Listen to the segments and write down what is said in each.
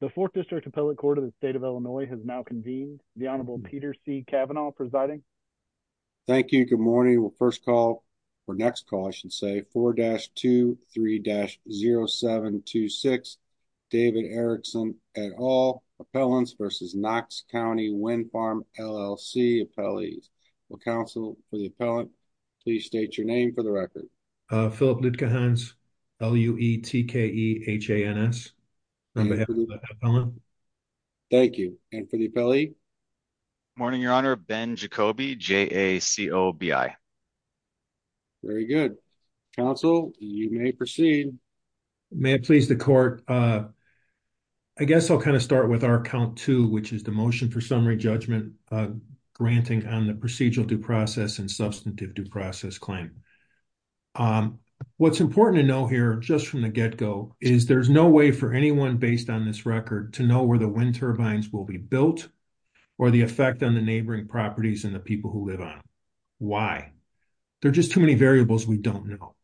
The 4th District Appellate Court of the State of Illinois has now convened. The Honorable Peter C. Kavanaugh presiding. Thank you. Good morning. We'll first call for next call. I should say 4-23-0726 David Erickson et al. Appellants v. Knox County Wind Farm, LLC Appellees. Will counsel for the appellant please state your name for the record. Phillip Lutkehans, L-U-E-T-K-E-H-A-N-S. On behalf of the appellant. Thank you. And for the appellee. Good morning, Your Honor. Ben Jacoby, J-A-C-O-B-I. Very good. Counsel, you may proceed. May it please the court. I guess I'll kind of start with our count two, which is the motion for summary judgment granting on the procedural due process and substantive due process claim. What's important to know here, just from the get go, is there's no way for anyone based on this record to know where the wind turbines will be built. Or the effect on the neighboring properties and the people who live on. Why? There are just too many variables we don't know.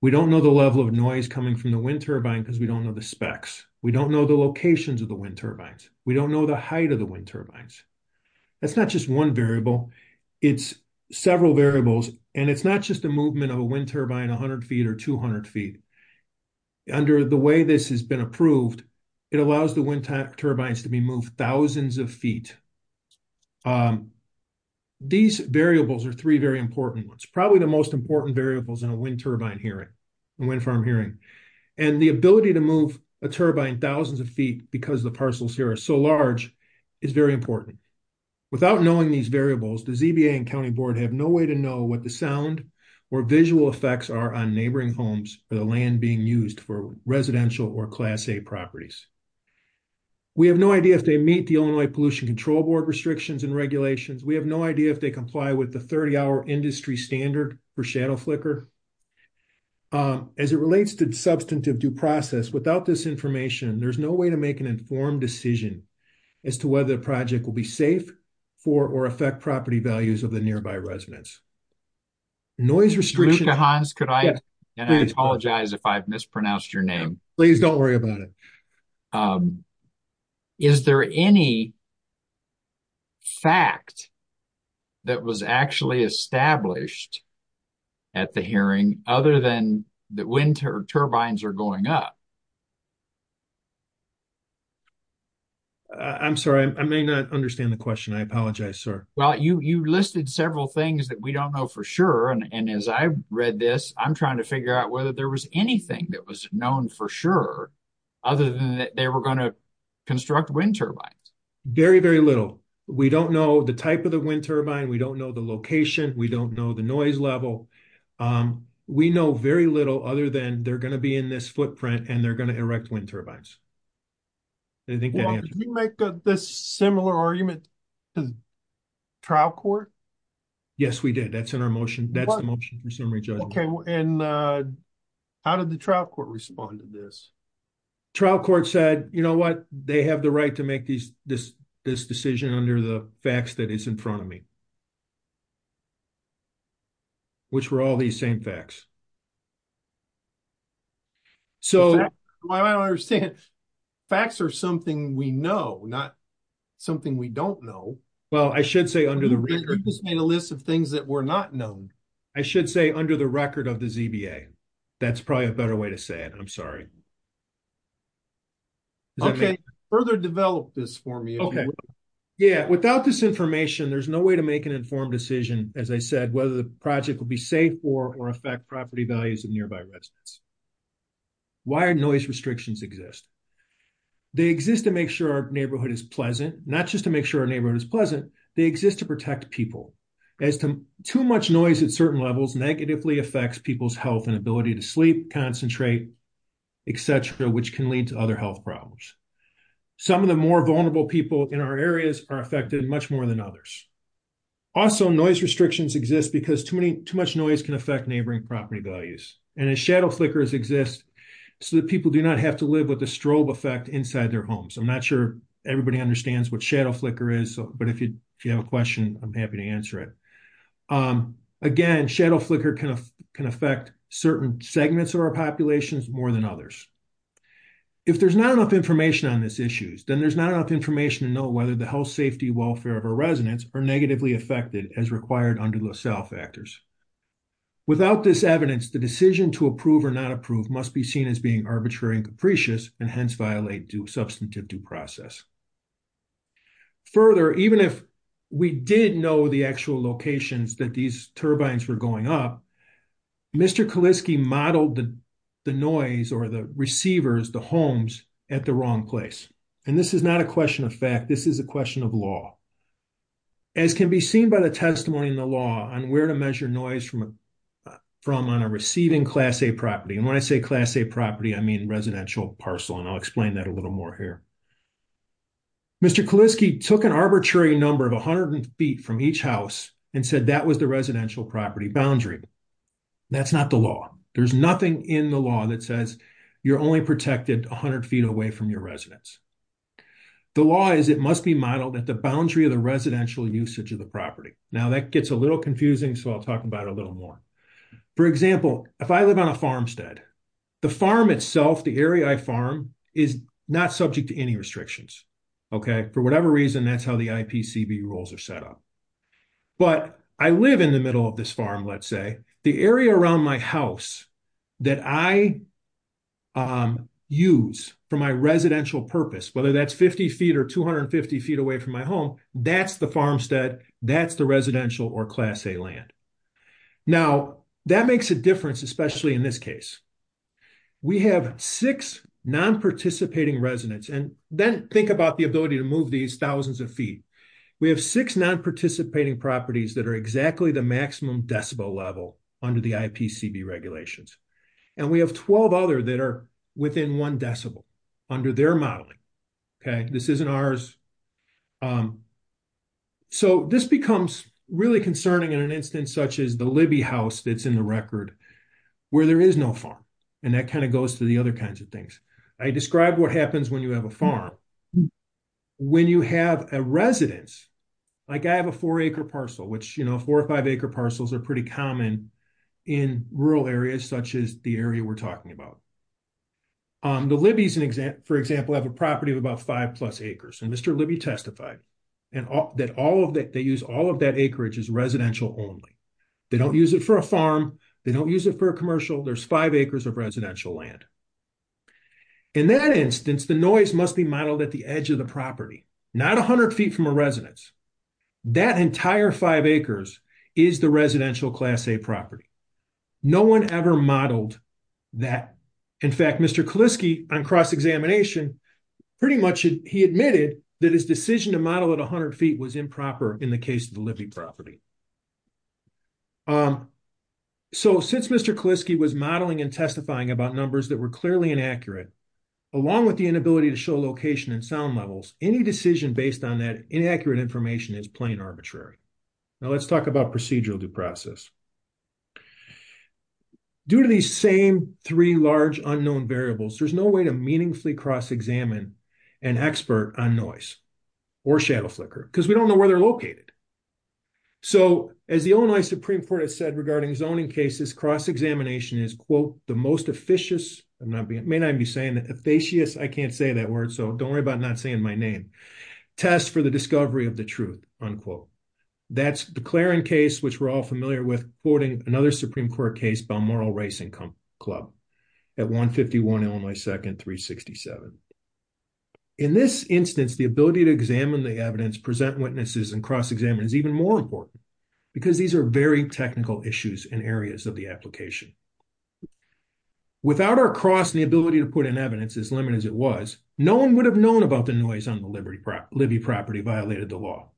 We don't know the level of noise coming from the wind turbine because we don't know the specs. We don't know the locations of the wind turbines. We don't know the height of the wind turbines. That's not just one variable. It's several variables, and it's not just a movement of a wind turbine 100 feet or 200 feet. Under the way this has been approved, it allows the wind turbines to be moved thousands of feet. These variables are three very important ones, probably the most important variables in a wind turbine hearing, a wind farm hearing. And the ability to move a turbine thousands of feet because the parcels here are so large is very important. Without knowing these variables, the ZBA and County Board have no way to know what the sound or visual effects are on neighboring homes or the land being used for residential or Class A properties. We have no idea if they meet the Illinois Pollution Control Board restrictions and regulations. We have no idea if they comply with the 30-hour industry standard for shadow flicker. As it relates to substantive due process, without this information, there's no way to make an informed decision as to whether the project will be safe for or affect property values of the nearby residents. Luca Hans, could I apologize if I've mispronounced your name? Please don't worry about it. Is there any fact that was actually established at the hearing other than that wind turbines are going up? I'm sorry, I may not understand the question. I apologize, sir. Well, you listed several things that we don't know for sure. And as I read this, I'm trying to figure out whether there was anything that was known for sure, other than that they were going to construct wind turbines. Very, very little. We don't know the type of the wind turbine. We don't know the location. We don't know the noise level. We know very little other than they're going to be in this footprint and they're going to erect wind turbines. Did you make this similar argument to trial court? Yes, we did. That's in our motion. That's the motion for summary judgment. And how did the trial court respond to this? Trial court said, you know what, they have the right to make this decision under the facts that is in front of me. Which were all these same facts. So, I don't understand. Facts are something we know, not something we don't know. Well, I should say under the list of things that were not known. I should say under the record of the ZBA. That's probably a better way to say it. I'm sorry. Okay, further develop this for me. Okay. Yeah, without this information, there's no way to make an informed decision, as I said, whether the project will be safe for or affect property values of nearby residents. Why are noise restrictions exist? They exist to make sure our neighborhood is pleasant, not just to make sure our neighborhood is pleasant. They exist to protect people. Too much noise at certain levels negatively affects people's health and ability to sleep, concentrate, etc., which can lead to other health problems. Some of the more vulnerable people in our areas are affected much more than others. Also, noise restrictions exist because too much noise can affect neighboring property values. And shadow flickers exist so that people do not have to live with the strobe effect inside their homes. I'm not sure everybody understands what shadow flicker is, but if you have a question, I'm happy to answer it. Again, shadow flicker can affect certain segments of our populations more than others. If there's not enough information on these issues, then there's not enough information to know whether the health, safety, welfare of our residents are negatively affected as required under LaSalle factors. Without this evidence, the decision to approve or not approve must be seen as being arbitrary and capricious and hence violate substantive due process. Further, even if we did know the actual locations that these turbines were going up, Mr. Kaliski modeled the noise or the receivers, the homes, at the wrong place. And this is not a question of fact, this is a question of law. As can be seen by the testimony in the law on where to measure noise from on a receiving Class A property. And when I say Class A property, I mean residential parcel, and I'll explain that a little more here. Mr. Kaliski took an arbitrary number of 100 feet from each house and said that was the residential property boundary. That's not the law. There's nothing in the law that says you're only protected 100 feet away from your residence. The law is it must be modeled at the boundary of the residential usage of the property. Now that gets a little confusing, so I'll talk about it a little more. For example, if I live on a farmstead, the farm itself, the area I farm is not subject to any restrictions. Okay, for whatever reason, that's how the IPCV rules are set up. But I live in the middle of this farm, let's say, the area around my house that I use for my residential purpose, whether that's 50 feet or 250 feet away from my home, that's the farmstead, that's the residential or Class A land. Now, that makes a difference, especially in this case. We have six non-participating residents, and then think about the ability to move these thousands of feet. We have six non-participating properties that are exactly the maximum decibel level under the IPCV regulations. And we have 12 other that are within one decibel under their modeling. Okay, this isn't ours. So this becomes really concerning in an instance such as the Libby house that's in the record, where there is no farm, and that kind of goes to the other kinds of things. I described what happens when you have a farm. When you have a residence, like I have a four acre parcel, which, you know, four or five acre parcels are pretty common in rural areas such as the area we're talking about. The Libby's, for example, have a property of about five plus acres, and Mr. Libby testified that they use all of that acreage as residential only. They don't use it for a farm. They don't use it for a commercial. There's five acres of residential land. In that instance, the noise must be modeled at the edge of the property, not 100 feet from a residence. That entire five acres is the residential Class A property. No one ever modeled that. In fact, Mr. Kaliske, on cross-examination, pretty much he admitted that his decision to model at 100 feet was improper in the case of the Libby property. So since Mr. Kaliske was modeling and testifying about numbers that were clearly inaccurate, along with the inability to show location and sound levels, any decision based on that inaccurate information is plain arbitrary. Now let's talk about procedural due process. Due to these same three large unknown variables, there's no way to meaningfully cross-examine an expert on noise or shadow flicker because we don't know where they're located. So, as the Illinois Supreme Court has said regarding zoning cases, cross-examination is, quote, the most officious, I may not be saying that, effacious, I can't say that word, so don't worry about not saying my name, test for the discovery of the truth, unquote. That's the Clarin case, which we're all familiar with, quoting another Supreme Court case, Balmoral Racing Club at 151 Illinois 2nd, 367. In this instance, the ability to examine the evidence, present witnesses, and cross-examine is even more important because these are very technical issues in areas of the application. Without our cross and the ability to put in evidence, as limited as it was, no one would have known about the noise on the Libby property violated the law.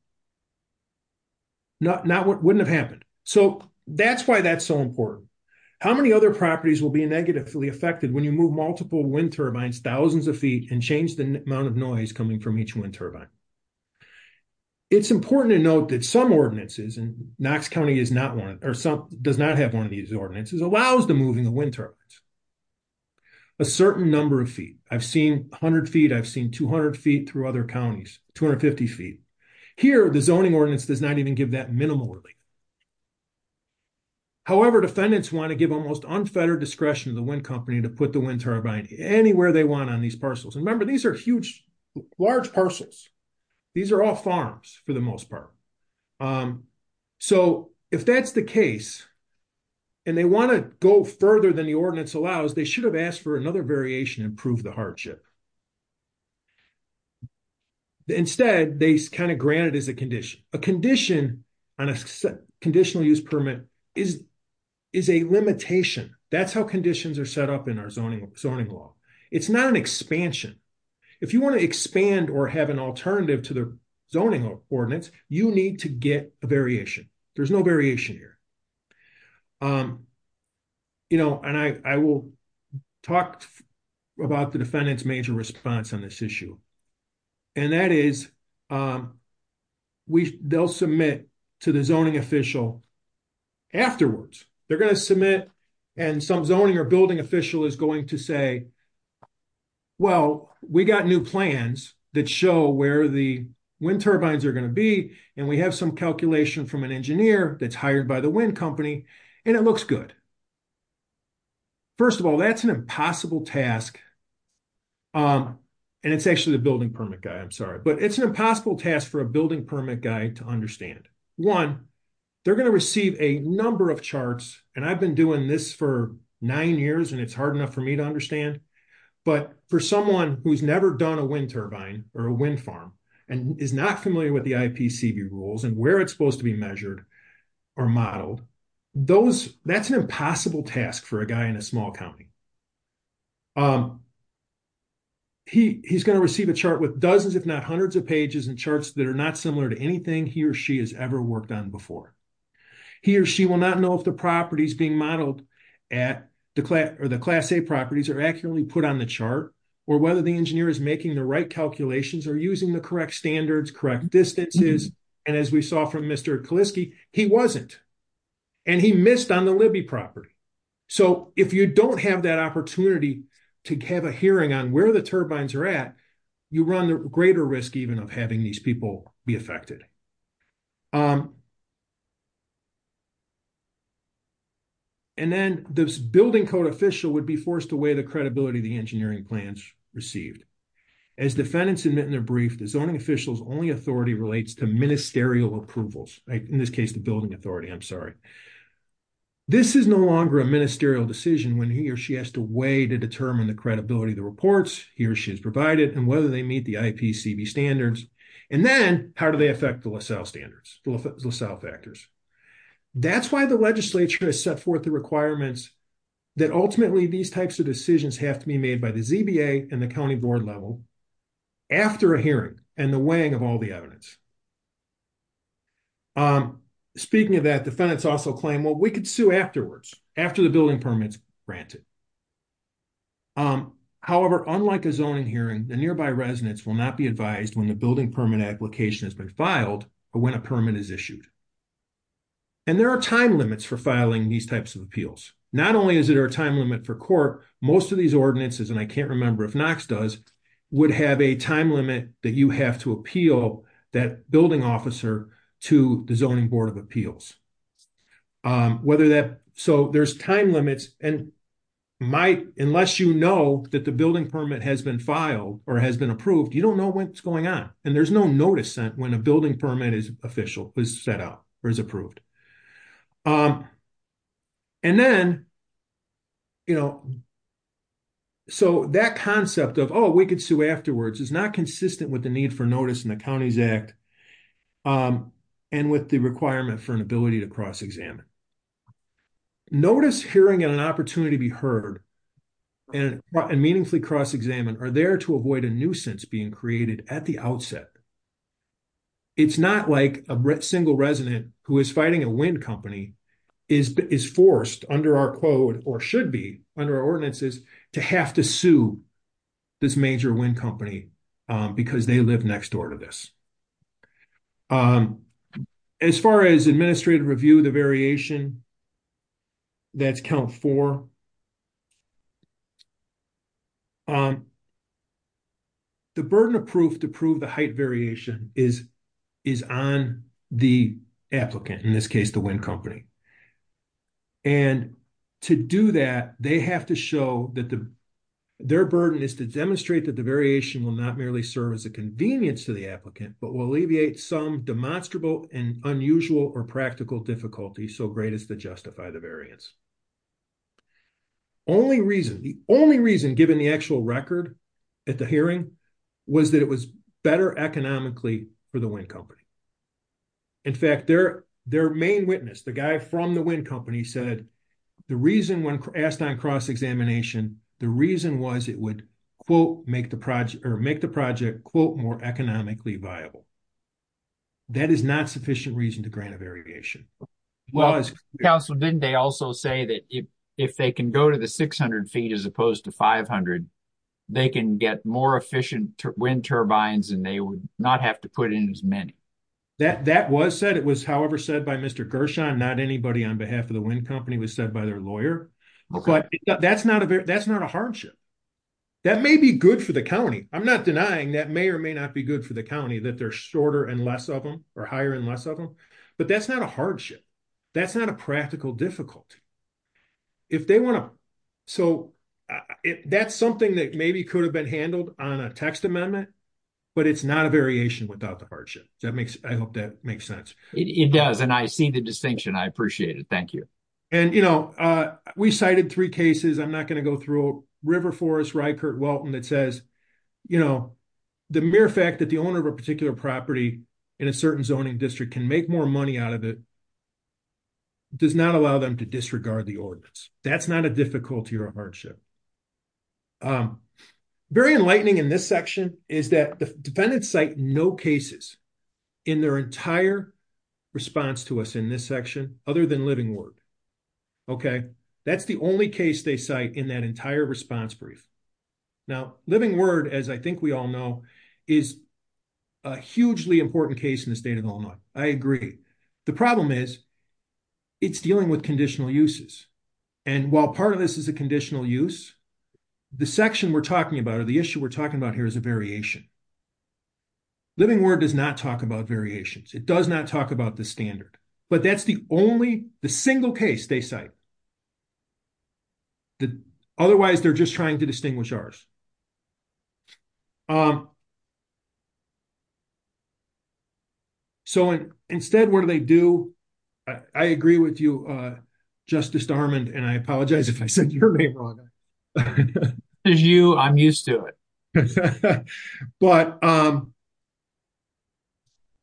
Wouldn't have happened. So, that's why that's so important. How many other properties will be negatively affected when you move multiple wind turbines thousands of feet and change the amount of noise coming from each wind turbine? It's important to note that some ordinances, and Knox County does not have one of these ordinances, allows the moving of wind turbines. A certain number of feet. I've seen 100 feet, I've seen 200 feet through other counties, 250 feet. Here, the zoning ordinance does not even give that minimally. However, defendants want to give almost unfettered discretion to the wind company to put the wind turbine anywhere they want on these parcels. And remember, these are huge, large parcels. These are all farms, for the most part. So, if that's the case, and they want to go further than the ordinance allows, they should have asked for another variation and prove the hardship. Instead, they kind of grant it as a condition. A condition on a conditional use permit is a limitation. That's how conditions are set up in our zoning law. It's not an expansion. If you want to expand or have an alternative to the zoning ordinance, you need to get a variation. There's no variation here. You know, and I will talk about the defendant's major response on this issue, and that is, they'll submit to the zoning official afterwards. They're going to submit, and some zoning or building official is going to say, well, we got new plans that show where the wind turbines are going to be, and we have some calculation from an engineer that's hired by the wind company, and it looks good. First of all, that's an impossible task. And it's actually the building permit guy, I'm sorry, but it's an impossible task for a building permit guy to understand. One, they're going to receive a number of charts, and I've been doing this for nine years, and it's hard enough for me to understand, but for someone who's never done a wind turbine or a wind farm and is not familiar with the IPCB rules and where it's supposed to be measured or modeled, that's an impossible task for a guy in a small county. He's going to receive a chart with dozens if not hundreds of pages and charts that are not similar to anything he or she has ever worked on before. He or she will not know if the properties being modeled at the class A properties are accurately put on the chart, or whether the engineer is making the right calculations or using the correct standards, correct distances, and as we saw from Mr. Kaliski, he wasn't. And he missed on the Libby property. So if you don't have that opportunity to have a hearing on where the turbines are at, you run the greater risk even of having these people be affected. And then this building code official would be forced to weigh the credibility of the engineering plans received. As defendants admit in their brief, the zoning official's only authority relates to ministerial approvals. In this case, the building authority, I'm sorry. This is no longer a ministerial decision when he or she has to weigh to determine the credibility of the reports he or she has provided and whether they meet the IPCB standards. And then how do they affect the LaSalle standards, the LaSalle factors? That's why the legislature has set forth the requirements that ultimately these types of decisions have to be made by the ZBA and the county board level after a hearing and the weighing of all the evidence. Speaking of that, defendants also claim, well, we could sue afterwards, after the building permit's granted. However, unlike a zoning hearing, the nearby residents will not be advised when the building permit application has been filed or when a permit is issued. And there are time limits for filing these types of appeals. Not only is there a time limit for court, most of these ordinances, and I can't remember if Knox does, would have a time limit that you have to appeal that building officer to the zoning board of appeals. So there's time limits, and unless you know that the building permit has been filed or has been approved, you don't know what's going on. And there's no notice sent when a building permit is official, is set up, or is approved. And then, you know, so that concept of, oh, we could sue afterwards, is not consistent with the need for notice in the Counties Act, and with the requirement for an ability to cross-examine. Notice, hearing, and an opportunity to be heard and meaningfully cross-examined are there to avoid a nuisance being created at the outset. It's not like a single resident who is fighting a wind company is forced under our code, or should be under our ordinances, to have to sue this major wind company because they live next door to this. As far as administrative review, the variation, that's Count 4. The burden of proof to prove the height variation is on the applicant, in this case, the wind company. And to do that, they have to show that their burden is to demonstrate that the variation will not merely serve as a convenience to the applicant, but will alleviate some demonstrable and unusual or practical difficulties so great as to justify the variance. The only reason, given the actual record at the hearing, was that it was better economically for the wind company. In fact, their main witness, the guy from the wind company, said the reason when asked on cross-examination, the reason was it would, quote, make the project, quote, more economically viable. That is not sufficient reason to grant a variation. Well, Council, didn't they also say that if they can go to the 600 feet as opposed to 500, they can get more efficient wind turbines and they would not have to put in as many? That was said. It was, however, said by Mr. Gershon. Not anybody on behalf of the wind company was said by their lawyer. But that's not a hardship. That may be good for the county. I'm not denying that may or may not be good for the county, that they're shorter and less of them, or higher and less of them. But that's not a hardship. That's not a practical difficulty. So, that's something that maybe could have been handled on a text amendment, but it's not a variation without the hardship. I hope that makes sense. It does, and I see the distinction. I appreciate it. Thank you. And, you know, we cited three cases. I'm not going to go through River Forest Rykert-Welton that says, you know, the mere fact that the owner of a particular property in a certain zoning district can make more money out of it does not allow them to disregard the ordinance. That's not a difficulty or a hardship. Very enlightening in this section is that the defendants cite no cases in their entire response to us in this section, other than Living Word. Okay, that's the only case they cite in that entire response brief. Now, Living Word, as I think we all know, is a hugely important case in the state of Illinois. I agree. The problem is, it's dealing with conditional uses. And while part of this is a conditional use, the section we're talking about or the issue we're talking about here is a variation. Living Word does not talk about variations. It does not talk about the standard. But that's the only, the single case they cite. Otherwise, they're just trying to distinguish ours. Um, so instead, what do they do? I agree with you, Justice Darmond, and I apologize if I said your name wrong. As you, I'm used to it. But, um,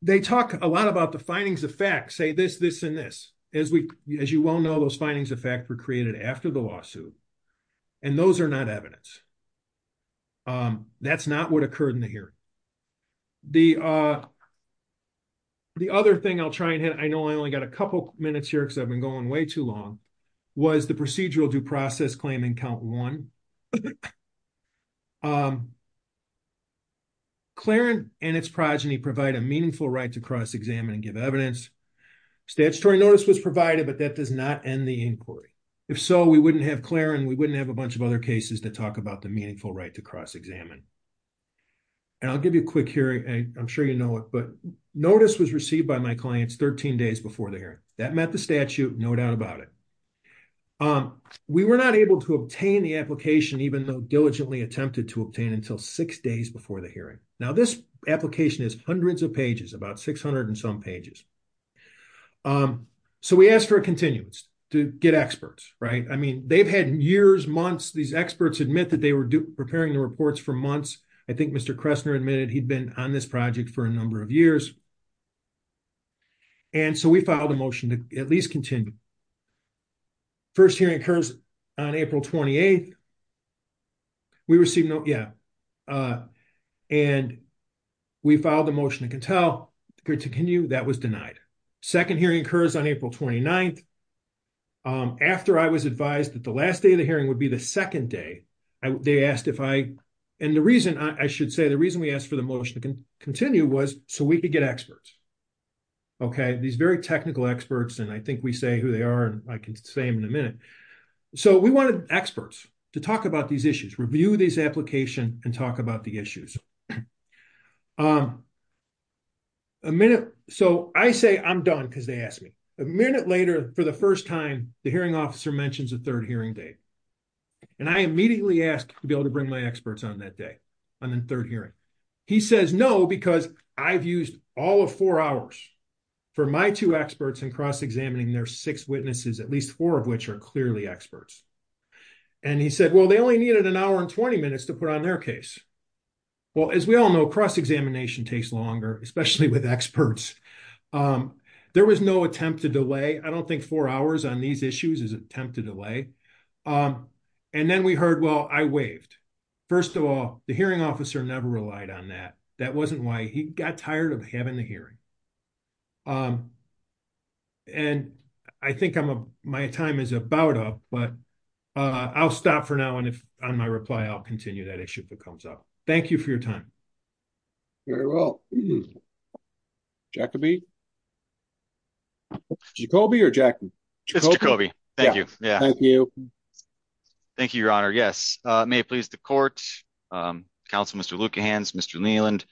they talk a lot about the findings of fact, say this, this, and this. As you well know, those findings of fact were created after the lawsuit. And those are not evidence. That's not what occurred in the hearing. The, uh, the other thing I'll try and hit, I know I only got a couple minutes here because I've been going way too long, was the procedural due process claim in count one. Um, Clarence and its progeny provide a meaningful right to cross-examine and give evidence. Statutory notice was provided, but that does not end the inquiry. If so, we wouldn't have Clarence, we wouldn't have a bunch of other cases to talk about the meaningful right to cross-examine. And I'll give you a quick hearing, I'm sure you know it, but notice was received by my clients 13 days before the hearing. That met the statute, no doubt about it. Um, we were not able to obtain the application, even though diligently attempted to obtain until six days before the hearing. Now this application is hundreds of pages, about 600 and some pages. Um, so we asked for a continuance to get experts, right? I mean, they've had years, months, these experts admit that they were preparing the reports for months. I think Mr. Kressner admitted he'd been on this project for a number of years. And so we filed a motion to at least continue. First hearing occurs on April 28th. We received no, yeah. And we filed a motion to continue, that was denied. Second hearing occurs on April 29th. After I was advised that the last day of the hearing would be the second day. They asked if I, and the reason I should say the reason we asked for the motion to continue was so we could get experts. Okay, these very technical experts and I think we say who they are, I can say in a minute. So we wanted experts to talk about these issues, review these application and talk about the issues. Um, a minute. So I say I'm done because they asked me. A minute later, for the first time, the hearing officer mentions a third hearing date. And I immediately asked to be able to bring my experts on that day, on the third hearing. He says no, because I've used all of four hours for my two experts and cross examining their six witnesses, at least four of which are clearly experts. And he said, well, they only needed an hour and 20 minutes to put on their case. Well, as we all know, cross examination takes longer, especially with experts. There was no attempt to delay. I don't think four hours on these issues is an attempt to delay. And then we heard, well, I waved. First of all, the hearing officer never relied on that. That wasn't why he got tired of having the hearing. Um, and I think I'm a, my time is about up, but, uh, I'll stop for now. And if on my reply, I'll continue that issue if it comes up. Thank you for your time. Very well. Jacoby. Jacoby or Jacoby? Jacoby. Thank you. Yeah. Thank you, Your Honor. Yes. May it please the court. Council, Mr. Luke, your hands, Mr. Leland.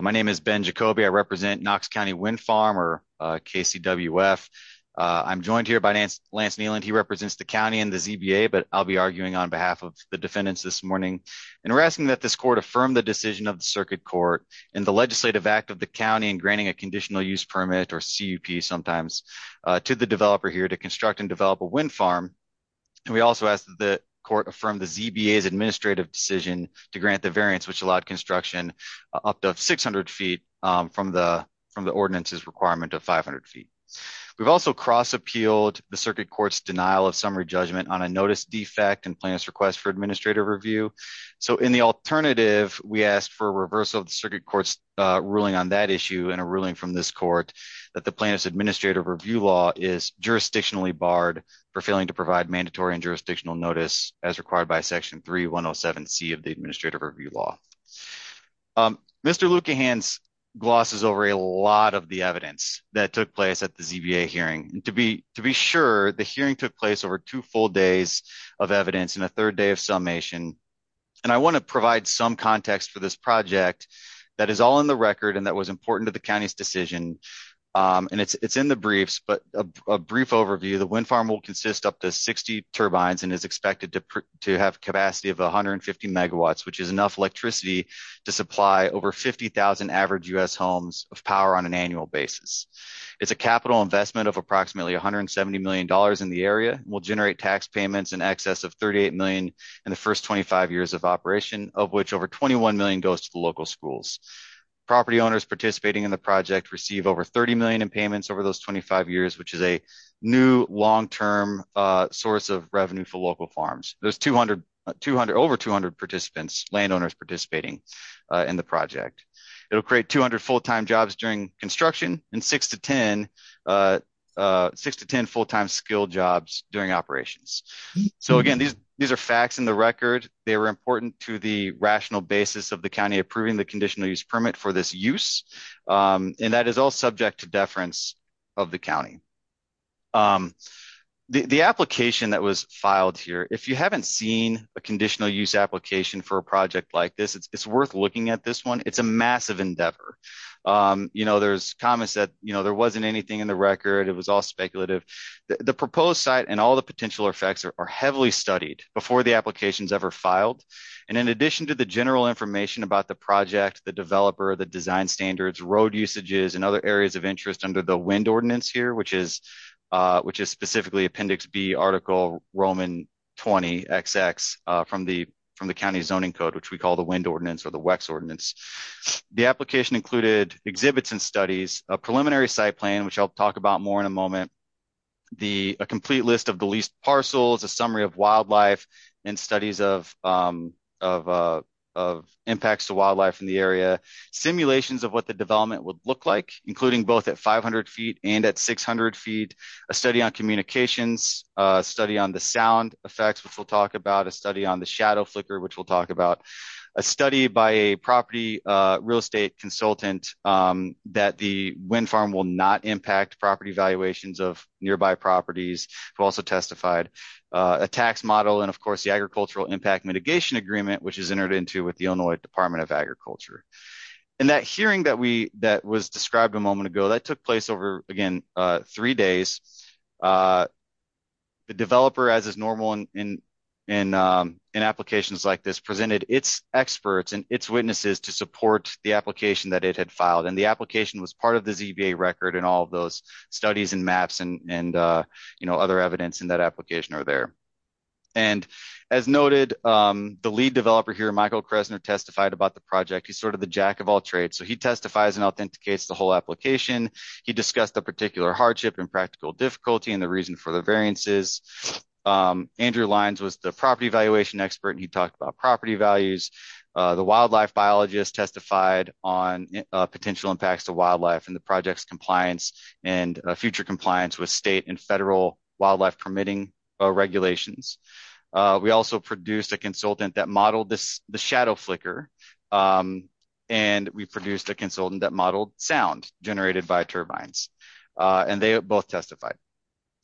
My name is Ben Jacoby. I represent Knox County Wind Farm or KCWF. I'm joined here by Lance Leland. He represents the county and the ZBA, but I'll be arguing on behalf of the defendants this morning. And we're asking that this court affirm the decision of the circuit court in the legislative act of the county and granting a conditional use permit or CEP sometimes to the developer here to construct and develop a wind farm. And we also ask that the court affirm the ZBA's administrative decision to grant the variance, which allowed construction up to 600 feet from the, from the ordinances requirement of 500 feet. We've also cross appealed the circuit court's denial of summary judgment on a notice defect and plaintiff's request for administrative review. So in the alternative, we asked for a reversal of the circuit court's ruling on that issue and a ruling from this court that the plaintiff's administrative review law is jurisdictionally barred for failing to provide mandatory and jurisdictional notice as required by section 3107C of the administrative review law. Mr. Luekehans glosses over a lot of the evidence that took place at the ZBA hearing. To be sure, the hearing took place over two full days of evidence and a third day of summation. And I want to provide some context for this project that is all in the record and that was important to the county's decision. And it's in the briefs, but a brief overview, the wind farm will consist up to 60 turbines and is expected to have capacity of 150 megawatts, which is enough electricity to supply over 50,000 average US homes of power on an annual basis. It's a capital investment of approximately $170 million in the area, will generate tax payments in excess of $38 million in the first 25 years of operation, of which over $21 million goes to the local schools. Property owners participating in the project receive over $30 million in payments over those 25 years, which is a new long-term source of revenue for local farms. There's over 200 participants, landowners participating in the project. It will create 200 full-time jobs during construction and 6 to 10 full-time skilled jobs during operations. So again, these are facts in the record. They were important to the rational basis of the county approving the conditional use permit for this use. And that is all subject to deference of the county. The application that was filed here, if you haven't seen a conditional use application for a project like this, it's worth looking at this one. It's a massive endeavor. There's comments that there wasn't anything in the record. It was all speculative. The proposed site and all the potential effects are heavily studied before the application is ever filed. And in addition to the general information about the project, the developer, the design standards, road usages, and other areas of interest under the WEND ordinance here, which is specifically Appendix B, Article Roman 20XX from the county zoning code, which we call the WEND ordinance or the WEX ordinance. The application included exhibits and studies, a preliminary site plan, which I'll talk about more in a moment, a complete list of the leased parcels, a summary of wildlife, and studies of impacts to wildlife in the area. Simulations of what the development would look like, including both at 500 feet and at 600 feet, a study on communications, a study on the sound effects, which we'll talk about, a study on the shadow flicker, which we'll talk about. A study by a property real estate consultant that the WEND farm will not impact property valuations of nearby properties, who also testified. A tax model and, of course, the Agricultural Impact Mitigation Agreement, which is entered into with the Illinois Department of Agriculture. And that hearing that was described a moment ago, that took place over, again, three days. The developer, as is normal in applications like this, presented its experts and its witnesses to support the application that it had filed, and the application was part of the ZBA record and all of those studies and maps and other evidence in that application are there. And, as noted, the lead developer here, Michael Kressner, testified about the project. He's sort of the jack of all trades, so he testifies and authenticates the whole application. He discussed the particular hardship and practical difficulty and the reason for the variances. Andrew Lyons was the property valuation expert, and he talked about property values. The wildlife biologist testified on potential impacts to wildlife and the project's compliance and future compliance with state and federal wildlife permitting regulations. We also produced a consultant that modeled the shadow flicker. And we produced a consultant that modeled sound generated by turbines, and they both testified.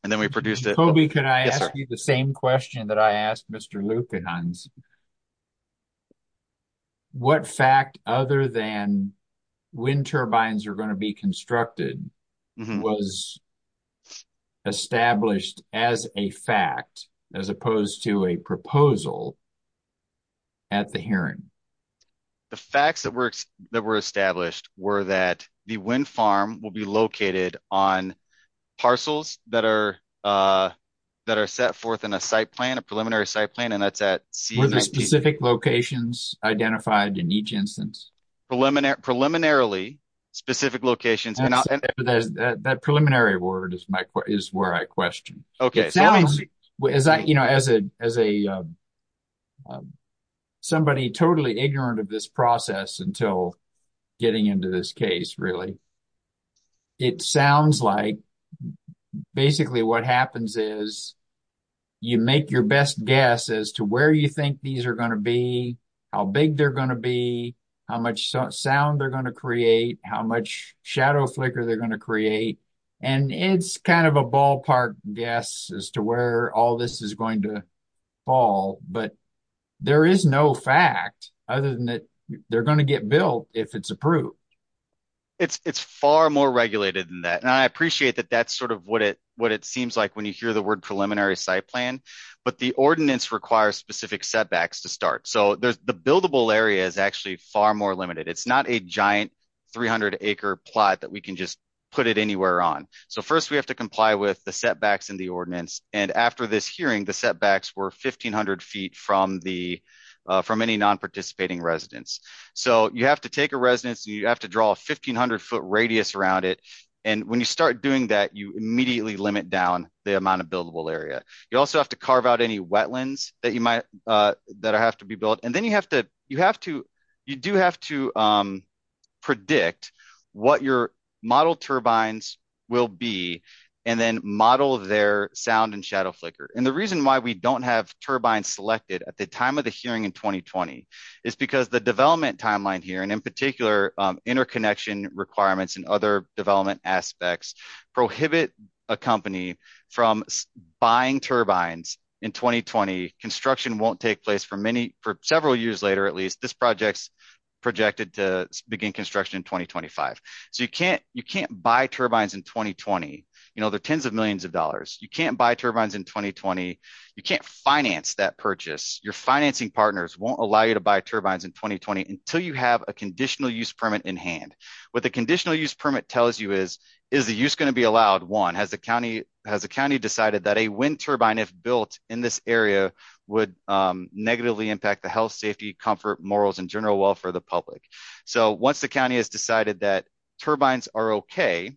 Toby, can I ask you the same question that I asked Mr. Luekehans? What fact, other than wind turbines are going to be constructed, was established as a fact, as opposed to a proposal, at the hearing? The facts that were established were that the wind farm will be located on parcels that are set forth in a site plan, a preliminary site plan, and that's at C-19. Were there specific locations identified in each instance? Preliminarily, specific locations. That preliminary word is where I questioned. As somebody totally ignorant of this process until getting into this case, really, it sounds like basically what happens is you make your best guess as to where you think these are going to be, how big they're going to be, how much sound they're going to create, how much shadow flicker they're going to create. And it's kind of a ballpark guess as to where all this is going to fall, but there is no fact other than that they're going to get built if it's approved. It's far more regulated than that, and I appreciate that that's sort of what it seems like when you hear the word preliminary site plan, but the ordinance requires specific setbacks to start. The buildable area is actually far more limited. It's not a giant 300-acre plot that we can just put it anywhere on. First, we have to comply with the setbacks in the ordinance, and after this hearing, the setbacks were 1,500 feet from any non-participating residence. You have to take a residence, and you have to draw a 1,500-foot radius around it, and when you start doing that, you immediately limit down the amount of buildable area. You also have to carve out any wetlands that have to be built, and then you do have to predict what your model turbines will be and then model their sound and shadow flicker. The reason why we don't have turbines selected at the time of the hearing in 2020 is because the development timeline here, and in particular interconnection requirements and other development aspects, prohibit a company from buying turbines in 2020. Construction won't take place for several years later, at least. This project is projected to begin construction in 2025, so you can't buy turbines in 2020. There are tens of millions of dollars. You can't buy turbines in 2020. You can't finance that purchase. Your financing partners won't allow you to buy turbines in 2020 until you have a conditional use permit in hand. What the conditional use permit tells you is, is the use going to be allowed? One, has the county decided that a wind turbine, if built in this area, would negatively impact the health, safety, comfort, morals, and general welfare of the public? Once the county has decided that turbines are okay,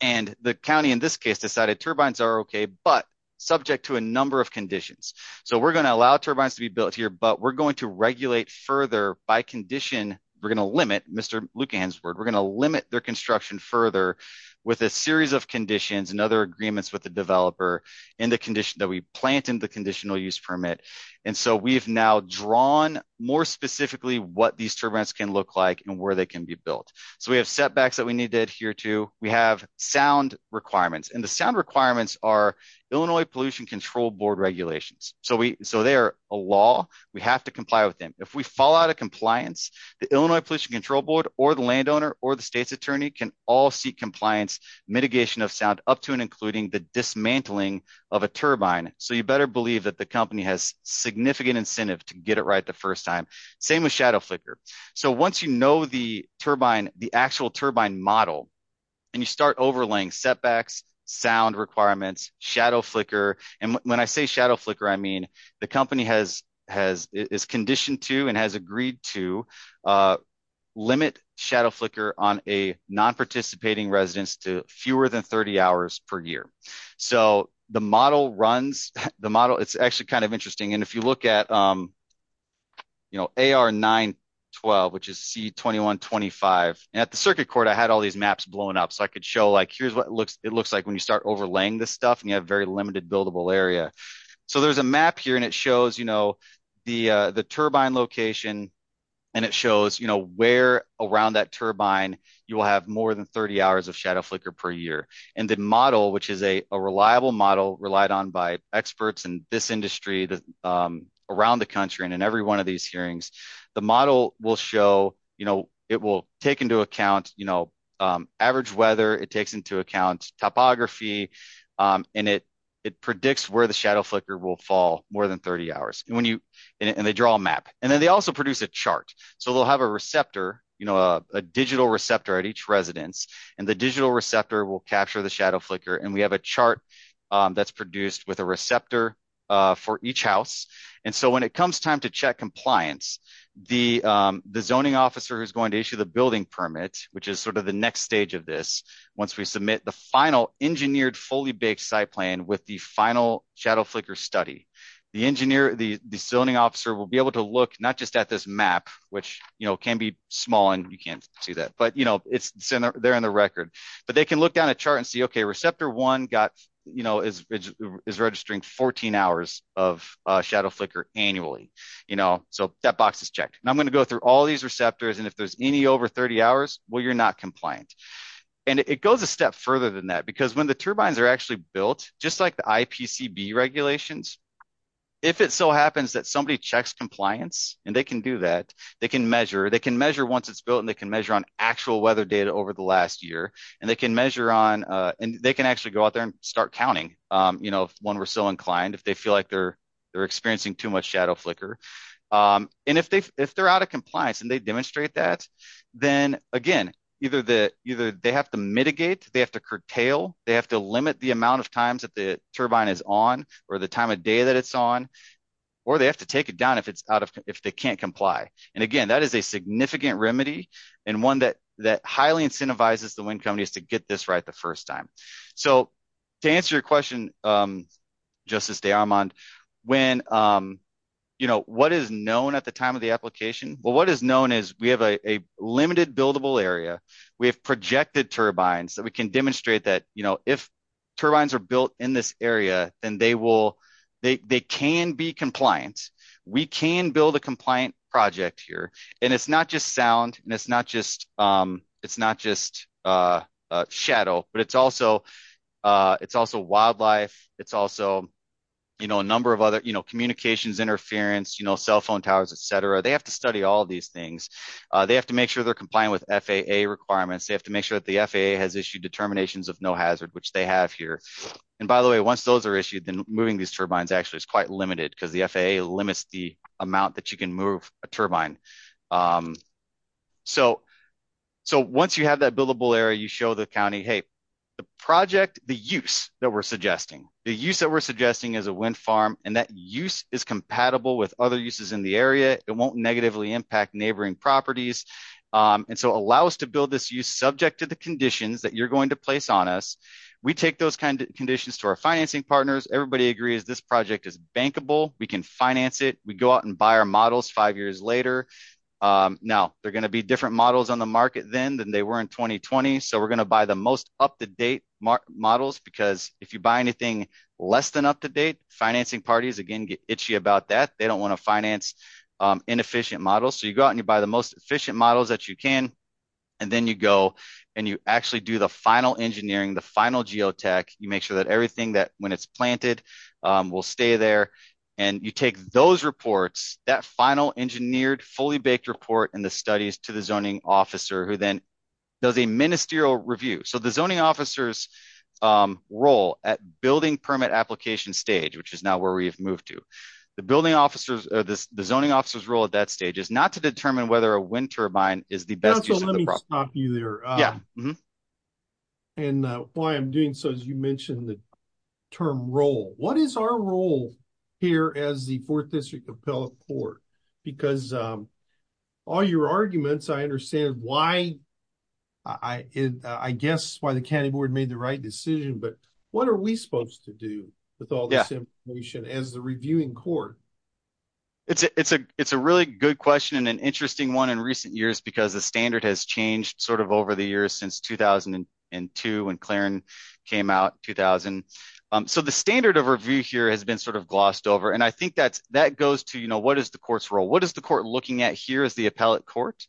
and the county in this case decided turbines are okay, but subject to a number of conditions. We're going to allow turbines to be built here, but we're going to regulate further by condition. We're going to limit, Mr. Luke Hansward, we're going to limit their construction further with a series of conditions and other agreements with the developer that we plant in the conditional use permit. And so we've now drawn more specifically what these turbines can look like and where they can be built. So we have setbacks that we need to adhere to. We have sound requirements. And the sound requirements are Illinois Pollution Control Board regulations. So they are a law. We have to comply with them. If we fall out of compliance, the Illinois Pollution Control Board or the landowner or the state's attorney can all seek compliance, mitigation of sound up to and including the dismantling of a turbine. So you better believe that the company has significant incentive to get it right the first time. Same with shadow flicker. So once you know the turbine, the actual turbine model, and you start overlaying setbacks, sound requirements, shadow flicker. And when I say shadow flicker, I mean the company has conditioned to and has agreed to limit shadow flicker on a non-participating residence to fewer than 30 hours per year. So the model runs the model. It's actually kind of interesting. And if you look at, you know, AR-912, which is C-2125 at the circuit court, I had all these maps blown up so I could show like here's what it looks like when you start overlaying this stuff and you have very limited buildable area. So there's a map here and it shows, you know, the turbine location and it shows, you know, where around that turbine you will have more than 30 hours of shadow flicker per year. And the model, which is a reliable model relied on by experts in this industry around the country and in every one of these hearings, the model will show, you know, it will take into account, you know, average weather. It takes into account topography and it predicts where the shadow flicker will fall more than 30 hours. And when you, and they draw a map and then they also produce a chart. So they'll have a receptor, you know, a digital receptor at each residence and the digital receptor will capture the shadow flicker and we have a chart that's produced with a receptor for each house. And so when it comes time to check compliance, the zoning officer who's going to issue the building permit, which is sort of the next stage of this, once we submit the final engineered fully baked site plan with the final shadow flicker study. The engineer, the zoning officer will be able to look, not just at this map, which, you know, can be small and you can't see that, but, you know, it's there in the record, but they can look down a chart and see, okay, receptor one got, you know, is registering 14 hours of shadow flicker annually, you know, so that box is checked. And I'm going to go through all these receptors and if there's any over 30 hours, well, you're not compliant. And it goes a step further than that, because when the turbines are actually built, just like the IPCB regulations, if it so happens that somebody checks compliance, and they can do that, they can measure, they can measure once it's built and they can measure on actual weather data over the last year, and they can measure on, and they can actually go out there and start counting, you know, when we're so inclined, if they feel like they're experiencing too much shadow flicker. And if they, if they're out of compliance and they demonstrate that, then again, either the, either they have to mitigate, they have to curtail, they have to limit the amount of times that the turbine is on, or the time of day that it's on, or they have to take it down if it's out of, if they can't comply. And again, that is a significant remedy, and one that, that highly incentivizes the wind companies to get this right the first time. So, to answer your question, Justice de Armand, when, you know, what is known at the time of the application? Well, what is known is we have a limited buildable area, we have projected turbines that we can demonstrate that, you know, if turbines are built in this area, then they will, they can be compliant. We can build a compliant project here, and it's not just sound, and it's not just, it's not just shadow, but it's also, it's also wildlife, it's also, you know, a number of other, you know, communications interference, you know, cell phone towers, etc. They have to study all these things. They have to make sure they're compliant with FAA requirements. They have to make sure that the FAA has issued determinations of no hazard, which they have here. And by the way, once those are issued, then moving these turbines actually is quite limited, because the FAA limits the amount that you can move a turbine. So, so once you have that buildable area, you show the county, hey, the project, the use that we're suggesting, the use that we're suggesting is a wind farm, and that use is compatible with other uses in the area, it won't negatively impact neighboring properties. And so, allow us to build this use subject to the conditions that you're going to place on us. We take those kind of conditions to our financing partners, everybody agrees this project is bankable, we can finance it, we go out and buy our models five years later. Now, they're going to be different models on the market then than they were in 2020. So, we're going to buy the most up-to-date models, because if you buy anything less than up-to-date, financing parties again get itchy about that, they don't want to finance inefficient models. So, you go out and you buy the most efficient models that you can, and then you go and you actually do the final engineering, the final geotech, you make sure that everything that when it's planted will stay there. And you take those reports, that final engineered fully baked report and the studies to the zoning officer who then does a ministerial review. So, the zoning officer's role at building permit application stage, which is now where we've moved to, the zoning officer's role at that stage is not to determine whether a wind turbine is the best use of the property. And why I'm doing so, as you mentioned the term role, what is our role here as the 4th District Appellate Court? Because all your arguments, I understand why, I guess why the county board made the right decision, but what are we supposed to do with all this information as the reviewing court? It's a really good question and an interesting one in recent years because the standard has changed sort of over the years since 2002 when Clarin came out, 2000. So, the standard of review here has been sort of glossed over and I think that goes to, you know, what is the court's role? What is the court looking at here as the appellate court?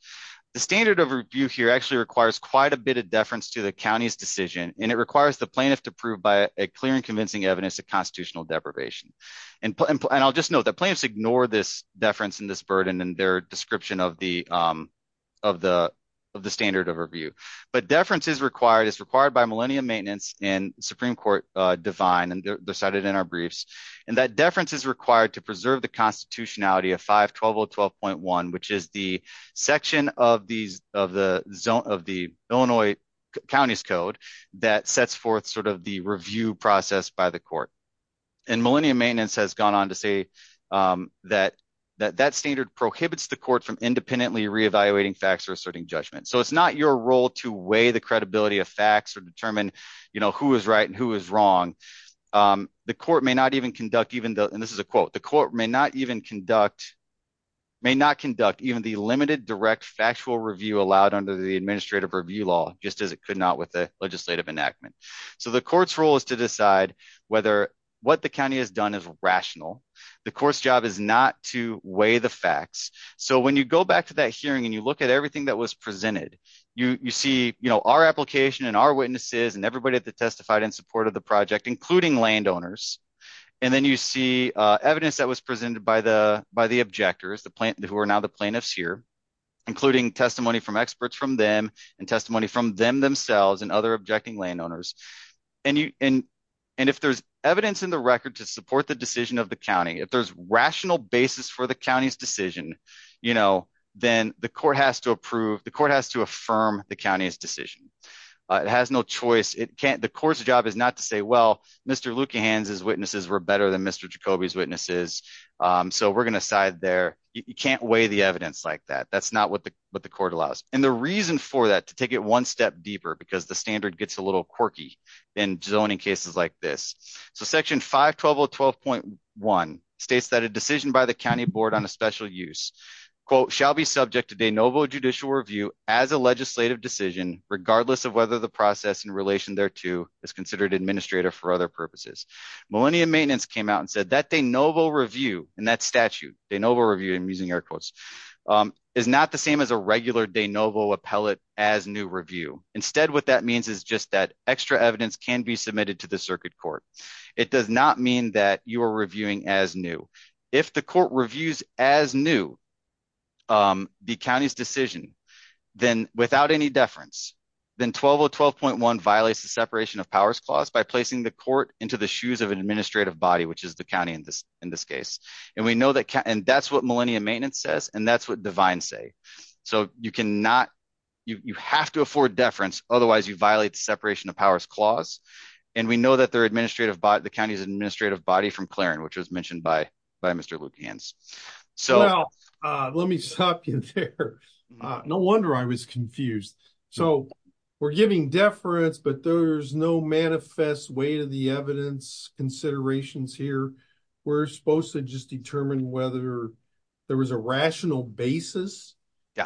The standard of review here actually requires quite a bit of deference to the county's decision, and it requires the plaintiff to prove by a clear and convincing evidence of constitutional deprivation. And I'll just note that plaintiffs ignore this deference and this burden in their description of the standard of review. But deference is required, it's required by Millennium Maintenance and Supreme Court divine, and they're cited in our briefs, and that deference is required to preserve the constitutionality of 512012.1, which is the section of the Illinois County's Code that sets forth sort of the review process by the court. And Millennium Maintenance has gone on to say that that standard prohibits the court from independently re-evaluating facts or asserting judgment. So, it's not your role to weigh the credibility of facts or determine, you know, who is right and who is wrong. The court may not even conduct, and this is a quote, the court may not even conduct, may not conduct even the limited direct factual review allowed under the administrative review law, just as it could not with the legislative enactment. So, the court's role is to decide whether what the county has done is rational. The court's job is not to weigh the facts. So, when you go back to that hearing and you look at everything that was presented, you see, you know, our application and our witnesses and everybody that testified in support of the project, including landowners. And then you see evidence that was presented by the objectors, who are now the plaintiffs here, including testimony from experts from them and testimony from them themselves and other objecting landowners. And if there's evidence in the record to support the decision of the county, if there's rational basis for the county's decision, you know, then the court has to approve, the court has to affirm the county's decision. It has no choice, it can't, the court's job is not to say, well, Mr. Luekehans' witnesses were better than Mr. Jacoby's witnesses. So, we're going to side there. You can't weigh the evidence like that. That's not what the court allows. And the reason for that, to take it one step deeper, because the standard gets a little quirky in zoning cases like this. So, section 512.1 states that a decision by the county board on a special use, quote, shall be subject to de novo judicial review as a legislative decision, regardless of whether the process in relation thereto is considered administrator for other purposes. Millennium Maintenance came out and said that de novo review and that statute, de novo review, I'm using air quotes, is not the same as a regular de novo appellate as new review. Instead, what that means is just that extra evidence can be submitted to the circuit court. It does not mean that you are reviewing as new. If the court reviews as new the county's decision, then without any deference, then 12012.1 violates the separation of powers clause by placing the court into the shoes of an administrative body, which is the county in this case. And that's what Millennium Maintenance says, and that's what Divine say. So, you have to afford deference. Otherwise, you violate the separation of powers clause. And we know that the county's administrative body from Clarin, which was mentioned by Mr. Lukians. So, let me stop you there. No wonder I was confused. So, we're giving deference, but there's no manifest way to the evidence considerations here. We're supposed to just determine whether there was a rational basis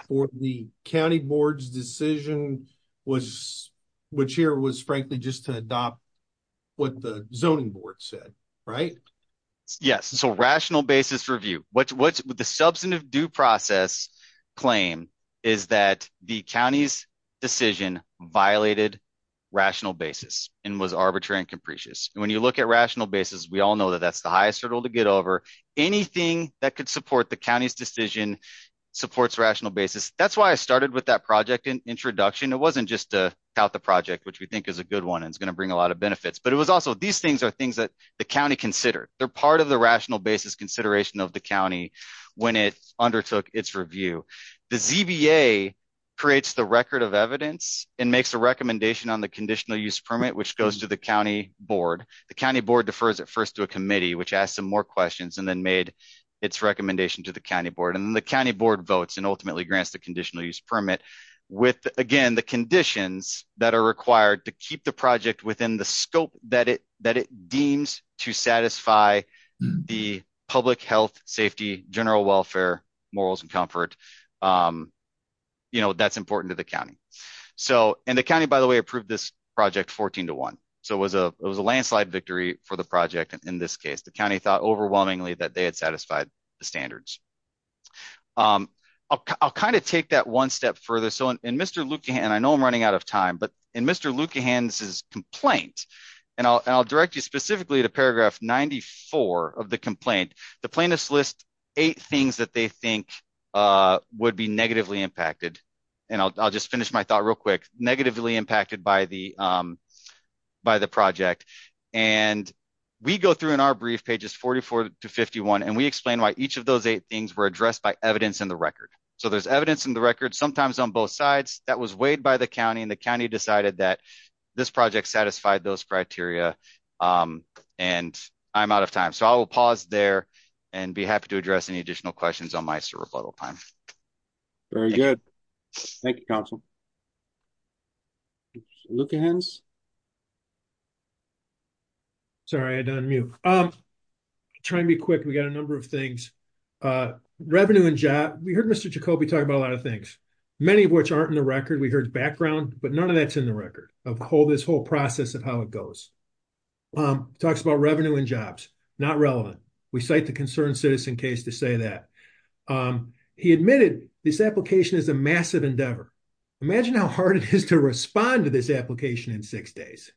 for the county board's decision was, which here was frankly, just to adopt. What the zoning board said, right? Yes. So, rational basis review. What the substantive due process claim is that the county's decision violated rational basis and was arbitrary and capricious. And when you look at rational basis, we all know that that's the highest hurdle to get over. Anything that could support the county's decision supports rational basis. That's why I started with that project introduction. It wasn't just to tout the project, which we think is a good one and it's going to bring a lot of benefits. But it was also these things are things that the county considered. They're part of the rational basis consideration of the county when it undertook its review. The ZBA creates the record of evidence and makes a recommendation on the conditional use permit, which goes to the county board. The county board defers at first to a committee, which asked some more questions and then made its recommendation to the county board. And the county board votes and ultimately grants the conditional use permit with, again, the conditions that are required to keep the project within the scope that it that it deems to satisfy the public health, safety, general welfare, morals and comfort. You know, that's important to the county. So, and the county, by the way, approved this project 14 to 1. So, it was a landslide victory for the project. In this case, the county thought overwhelmingly that they had satisfied the standards. I'll kind of take that one step further. So, in Mr. Luekehan, and I know I'm running out of time, but in Mr. Luekehan's complaint, and I'll direct you specifically to paragraph 94 of the complaint, the plaintiffs list eight things that they think would be negatively impacted. And I'll just finish my thought real quick. Negatively impacted by the project. And we go through in our brief, pages 44 to 51, and we explain why each of those eight things were addressed by evidence in the record. So, there's evidence in the record, sometimes on both sides, that was weighed by the county, and the county decided that this project satisfied those criteria, and I'm out of time. So, I will pause there and be happy to address any additional questions on my rebuttal time. Very good. Thank you, council. Luekehans? Sorry, I'm on mute. I'm trying to be quick. We got a number of things. Revenue and job, we heard Mr. Jacoby talk about a lot of things. Many of which aren't in the record, we heard background, but none of that's in the record of this whole process of how it goes. Talks about revenue and jobs, not relevant. We cite the concerned citizen case to say that. He admitted this application is a massive endeavor. Imagine how hard it is to respond to this application in six days.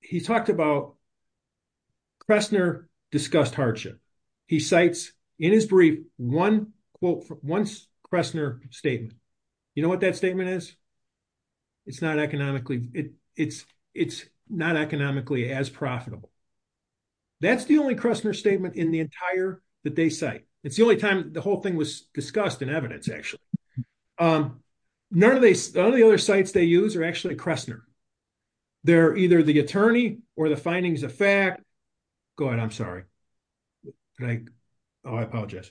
He talked about Cressner discussed hardship. He cites in his brief, one quote, one Cressner statement. You know what that statement is? It's not economically, it's not economically as profitable. That's the only Cressner statement in the entire that they cite. It's the only time the whole thing was discussed in evidence, actually. None of the other sites they use are actually Cressner. They're either the attorney or the findings of fact. Go ahead. I'm sorry. I apologize.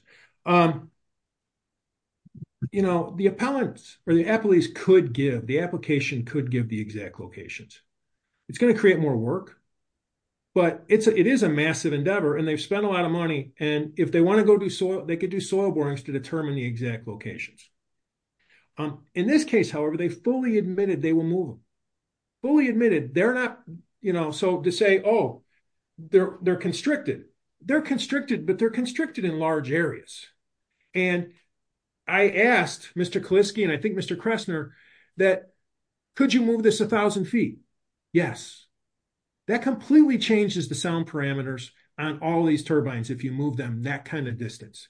You know, the appellants or the appellees could give, the application could give the exact locations. It's going to create more work. But it is a massive endeavor and they've spent a lot of money. And if they want to go do soil, they could do soil borings to determine the exact locations. In this case, however, they fully admitted they will move them. Fully admitted, they're not, you know, so to say, oh, they're, they're constricted. They're constricted, but they're constricted in large areas. And I asked Mr. Kaliski and I think Mr. Cressner that could you move this 1000 feet? Yes. That completely changes the sound parameters on all these turbines if you move them that kind of distance.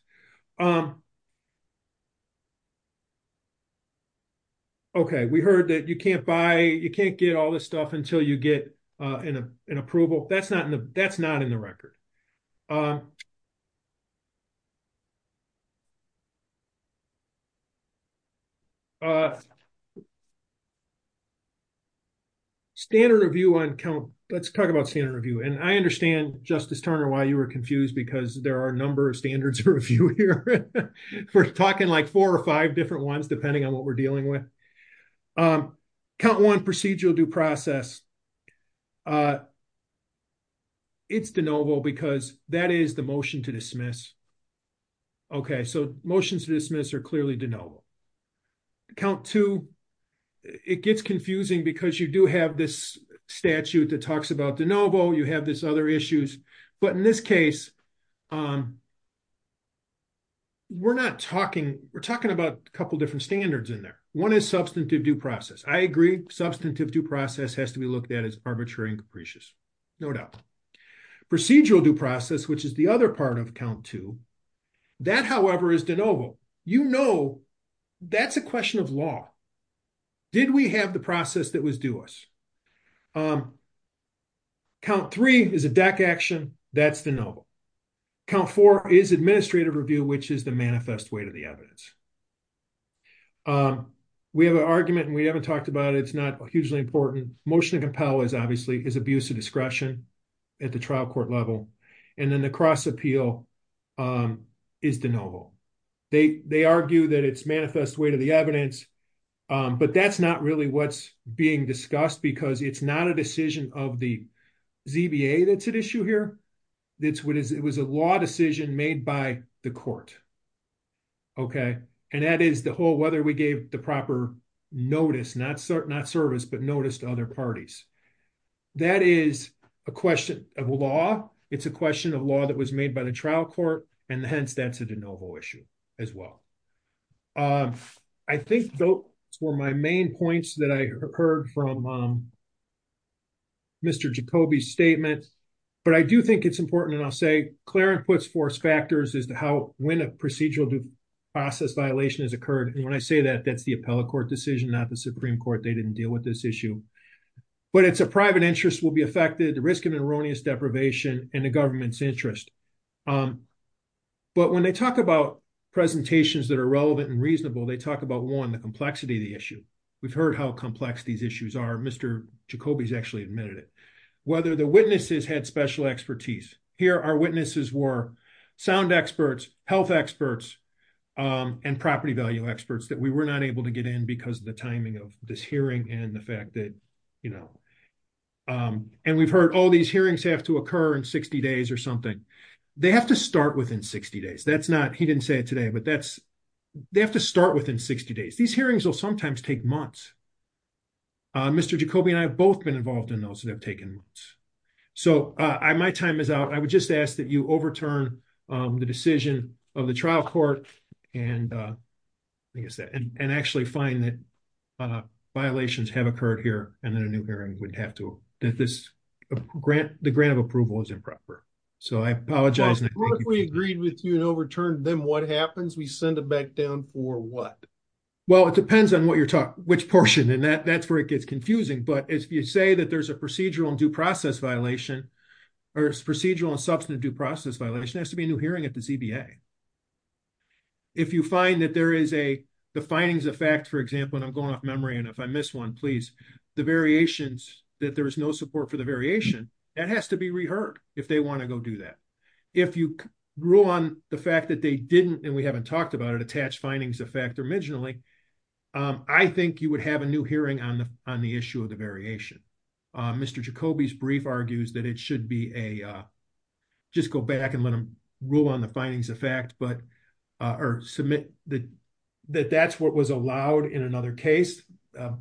Okay, we heard that you can't buy, you can't get all this stuff until you get an approval. That's not in the, that's not in the record. Okay. Standard review on count. Let's talk about standard review and I understand Justice Turner why you were confused because there are a number of standards for review here. We're talking like four or five different ones depending on what we're dealing with. Count one procedural due process. It's de novo because that is the motion to dismiss. Okay, so motions to dismiss are clearly de novo. Count two, it gets confusing because you do have this statute that talks about de novo, you have this other issues, but in this case, we're not talking, we're talking about a couple different standards in there. One is substantive due process. I agree, substantive due process has to be looked at as arbitrary and capricious, no doubt. Procedural due process, which is the other part of count two. That, however, is de novo. You know, that's a question of law. Did we have the process that was due us? Count three is a deck action. That's de novo. Count four is administrative review, which is the manifest way to the evidence. We have an argument and we haven't talked about it. It's not hugely important. Motion to compel is obviously is abuse of discretion at the trial court level. And then the cross appeal is de novo. They, they argue that it's manifest way to the evidence. But that's not really what's being discussed because it's not a decision of the ZBA that's at issue here. It was a law decision made by the court. Okay, and that is the whole whether we gave the proper notice, not service, but notice to other parties. That is a question of law. It's a question of law that was made by the trial court, and hence that's a de novo issue as well. I think those were my main points that I heard from Mr. Jacoby's statement. But I do think it's important and I'll say Clarence puts force factors as to how when a procedural due process violation has occurred. And when I say that, that's the appellate court decision, not the Supreme Court. They didn't deal with this issue. But it's a private interest will be affected the risk of erroneous deprivation and the government's interest. But when they talk about presentations that are relevant and reasonable they talk about one the complexity of the issue. We've heard how complex these issues are Mr. Jacoby's actually admitted it, whether the witnesses had special expertise. Here are witnesses were sound experts, health experts and property value experts that we were not able to get in because of the timing of this hearing and the fact that, you know, and we've heard all these hearings have to occur in 60 days or something. They have to start within 60 days. That's not he didn't say today, but that's they have to start within 60 days. These hearings will sometimes take months. Mr. Jacoby and I have both been involved in those that have taken. So, I my time is out. I would just ask that you overturn the decision of the trial court. And I guess that and actually find that violations have occurred here, and then a new hearing would have to that this grant the grant of approval is improper. So I apologize. We agreed with you and overturned them what happens we send it back down for what. Well, it depends on what you're talking, which portion and that that's where it gets confusing but as you say that there's a procedural and due process violation or procedural and substantive due process violation has to be a new hearing at the CBA. If you find that there is a the findings of fact, for example, and I'm going off memory and if I miss one, please, the variations that there is no support for the variation that has to be reheard, if they want to go do that. If you grew on the fact that they didn't and we haven't talked about it attached findings of fact originally, I think you would have a new hearing on the, on the issue of the variation. Mr Jacoby's brief argues that it should be a just go back and let them rule on the findings of fact but are submit that that that's what was allowed in another case,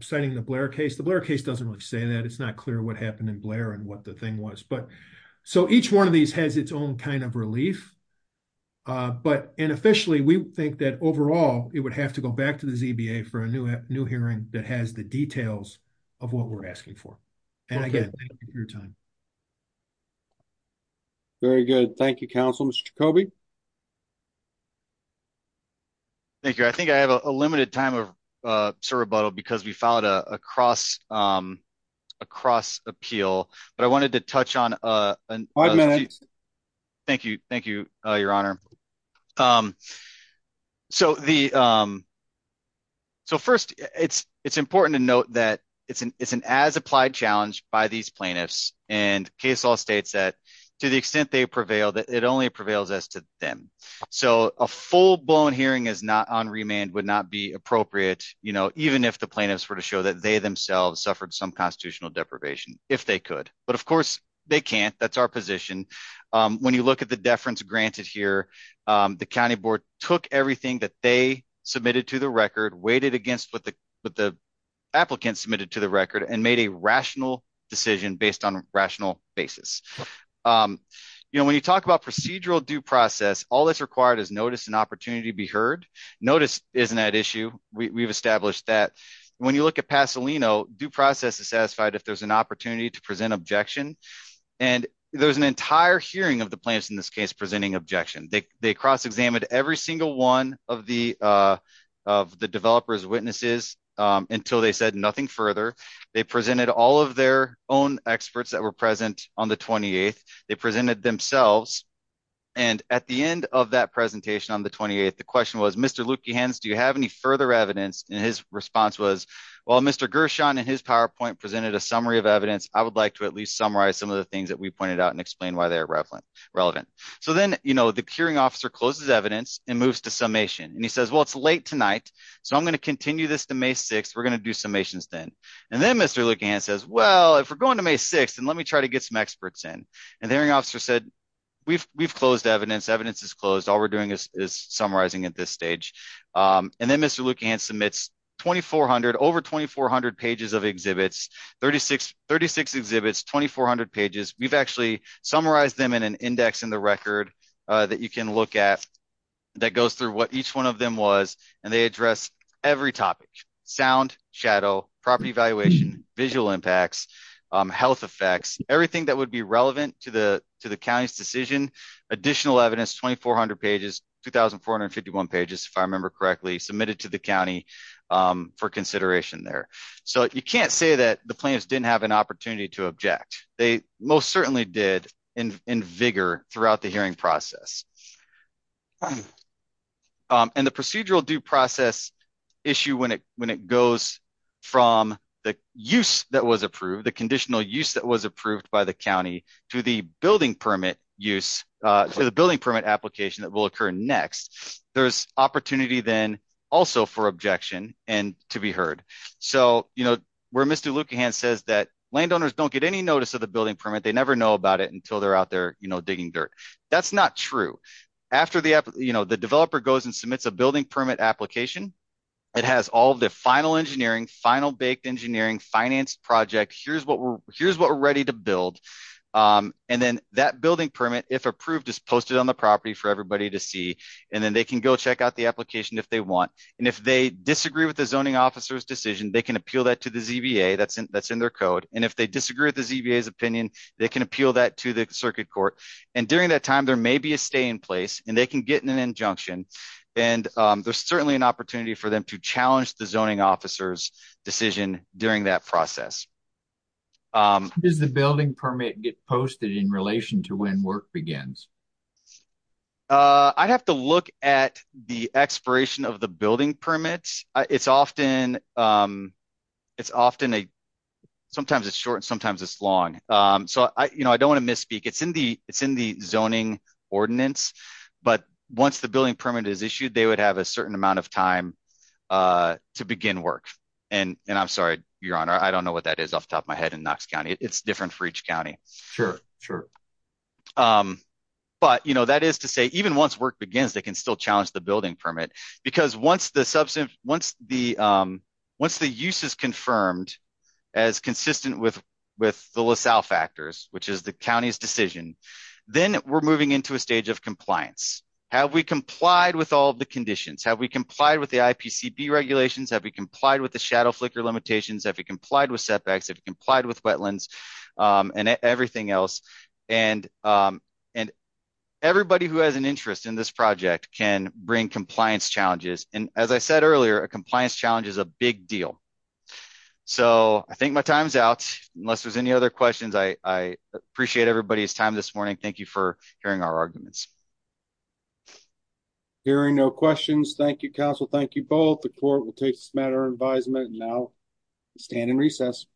citing the Blair case the Blair case doesn't really say that it's not clear what happened in Blair and what the thing was but so each one of these has its own kind of relief. But, and officially we think that overall, it would have to go back to the ZBA for a new new hearing that has the details of what we're asking for. And again, your time. Very good. Thank you, Councilman Kobe. Thank you. I think I have a limited time of sort of bottle because we found a cross across appeal, but I wanted to touch on a minute. Thank you. Thank you, Your Honor. So the. So first, it's, it's important to note that it's an it's an as applied challenge by these plaintiffs and case all states that, to the extent they prevail that it only prevails as to them. So, a full blown hearing is not on remand would not be appropriate, you know, even if the plaintiffs were to show that they themselves suffered some constitutional deprivation, if they could, but of course they can't that's our position. When you look at the deference granted here, the county board took everything that they submitted to the record weighted against what the, what the applicants submitted to the record and made a rational decision based on rational basis. You know when you talk about procedural due process, all that's required is notice and opportunity be heard. Notice, isn't that issue, we've established that when you look at Pasadena due process is satisfied if there's an opportunity to present objection. And there's an entire hearing of the plants in this case presenting objection they cross examined every single one of the, of the developers witnesses, until they said nothing further. They presented all of their own experts that were present on the 28th, they presented themselves. And at the end of that presentation on the 28th the question was Mr Lukey hands do you have any further evidence, and his response was, well Mr Gershon and his PowerPoint presented a summary of evidence, I would like to at least summarize some of the things that we pointed out and explain why they're relevant relevant. So then, you know, the curing officer closes evidence and moves to summation and he says well it's late tonight, so I'm going to continue this to May 6 we're going to do summations then. And then Mr looking and says well if we're going to May 6 and let me try to get some experts in and the hearing officer said, we've, we've closed evidence evidence is closed all we're doing is summarizing at this stage. And then Mr looking and submits 2400 over 2400 pages of exhibits 3636 exhibits 2400 pages, we've actually summarize them in an index in the record that you can look at that goes through what each one of them was, and they address every topic subject sound shadow property valuation visual impacts health effects, everything that would be relevant to the, to the county's decision, additional evidence 2400 pages 2451 pages if I remember correctly submitted to the county for consideration there. So you can't say that the plans didn't have an opportunity to object, they most certainly did in vigor throughout the hearing process. And the procedural due process issue when it when it goes from the use that was approved the conditional use that was approved by the county to the building permit use to the building permit application that will occur next. There's opportunity then also for objection, and to be heard. So, you know, we're Mr looking and says that landowners don't get any notice of the building permit they never know about it until they're out there, you know, digging dirt. That's not true. After the, you know, the developer goes and submits a building permit application. It has all the final engineering final baked engineering finance project here's what we're, here's what we're ready to build. And then that building permit if approved is posted on the property for everybody to see, and then they can go check out the application if they want. And if they disagree with the zoning officers decision they can appeal that to the ZBA that's in that's in their code, and if they disagree with the ZBA his opinion, they can appeal that to the circuit court, and during that time there may be a stay in place, and they can get an injunction. And there's certainly an opportunity for them to challenge the zoning officers decision during that process is the building permit get posted in relation to when work begins. I'd have to look at the expiration of the building permits, it's often. It's often a. Sometimes it's short and sometimes it's long, so I you know I don't want to misspeak it's in the, it's in the zoning ordinance, but once the building permit is issued they would have a certain amount of time to begin work, and I'm sorry, Your Honor I don't know what that is off the top of my head in Knox County it's different for each county. Sure, sure. But you know that is to say, even once work begins they can still challenge the building permit, because once the substance. Once the. Once the use is confirmed as consistent with with the LaSalle factors, which is the county's decision, then we're moving into a stage of compliance. Have we complied with all the conditions have we complied with the IPCB regulations have we complied with the shadow flicker limitations have you complied with setbacks if you complied with wetlands and everything else, and, and everybody who has an interest in this project can bring compliance challenges, and as I said earlier, a compliance challenge is a big deal. So, I think my time's out, unless there's any other questions I appreciate everybody's time this morning. Thank you for hearing our arguments. Hearing no questions. Thank you, counsel. Thank you both the court will take this matter advisement now stand in recess.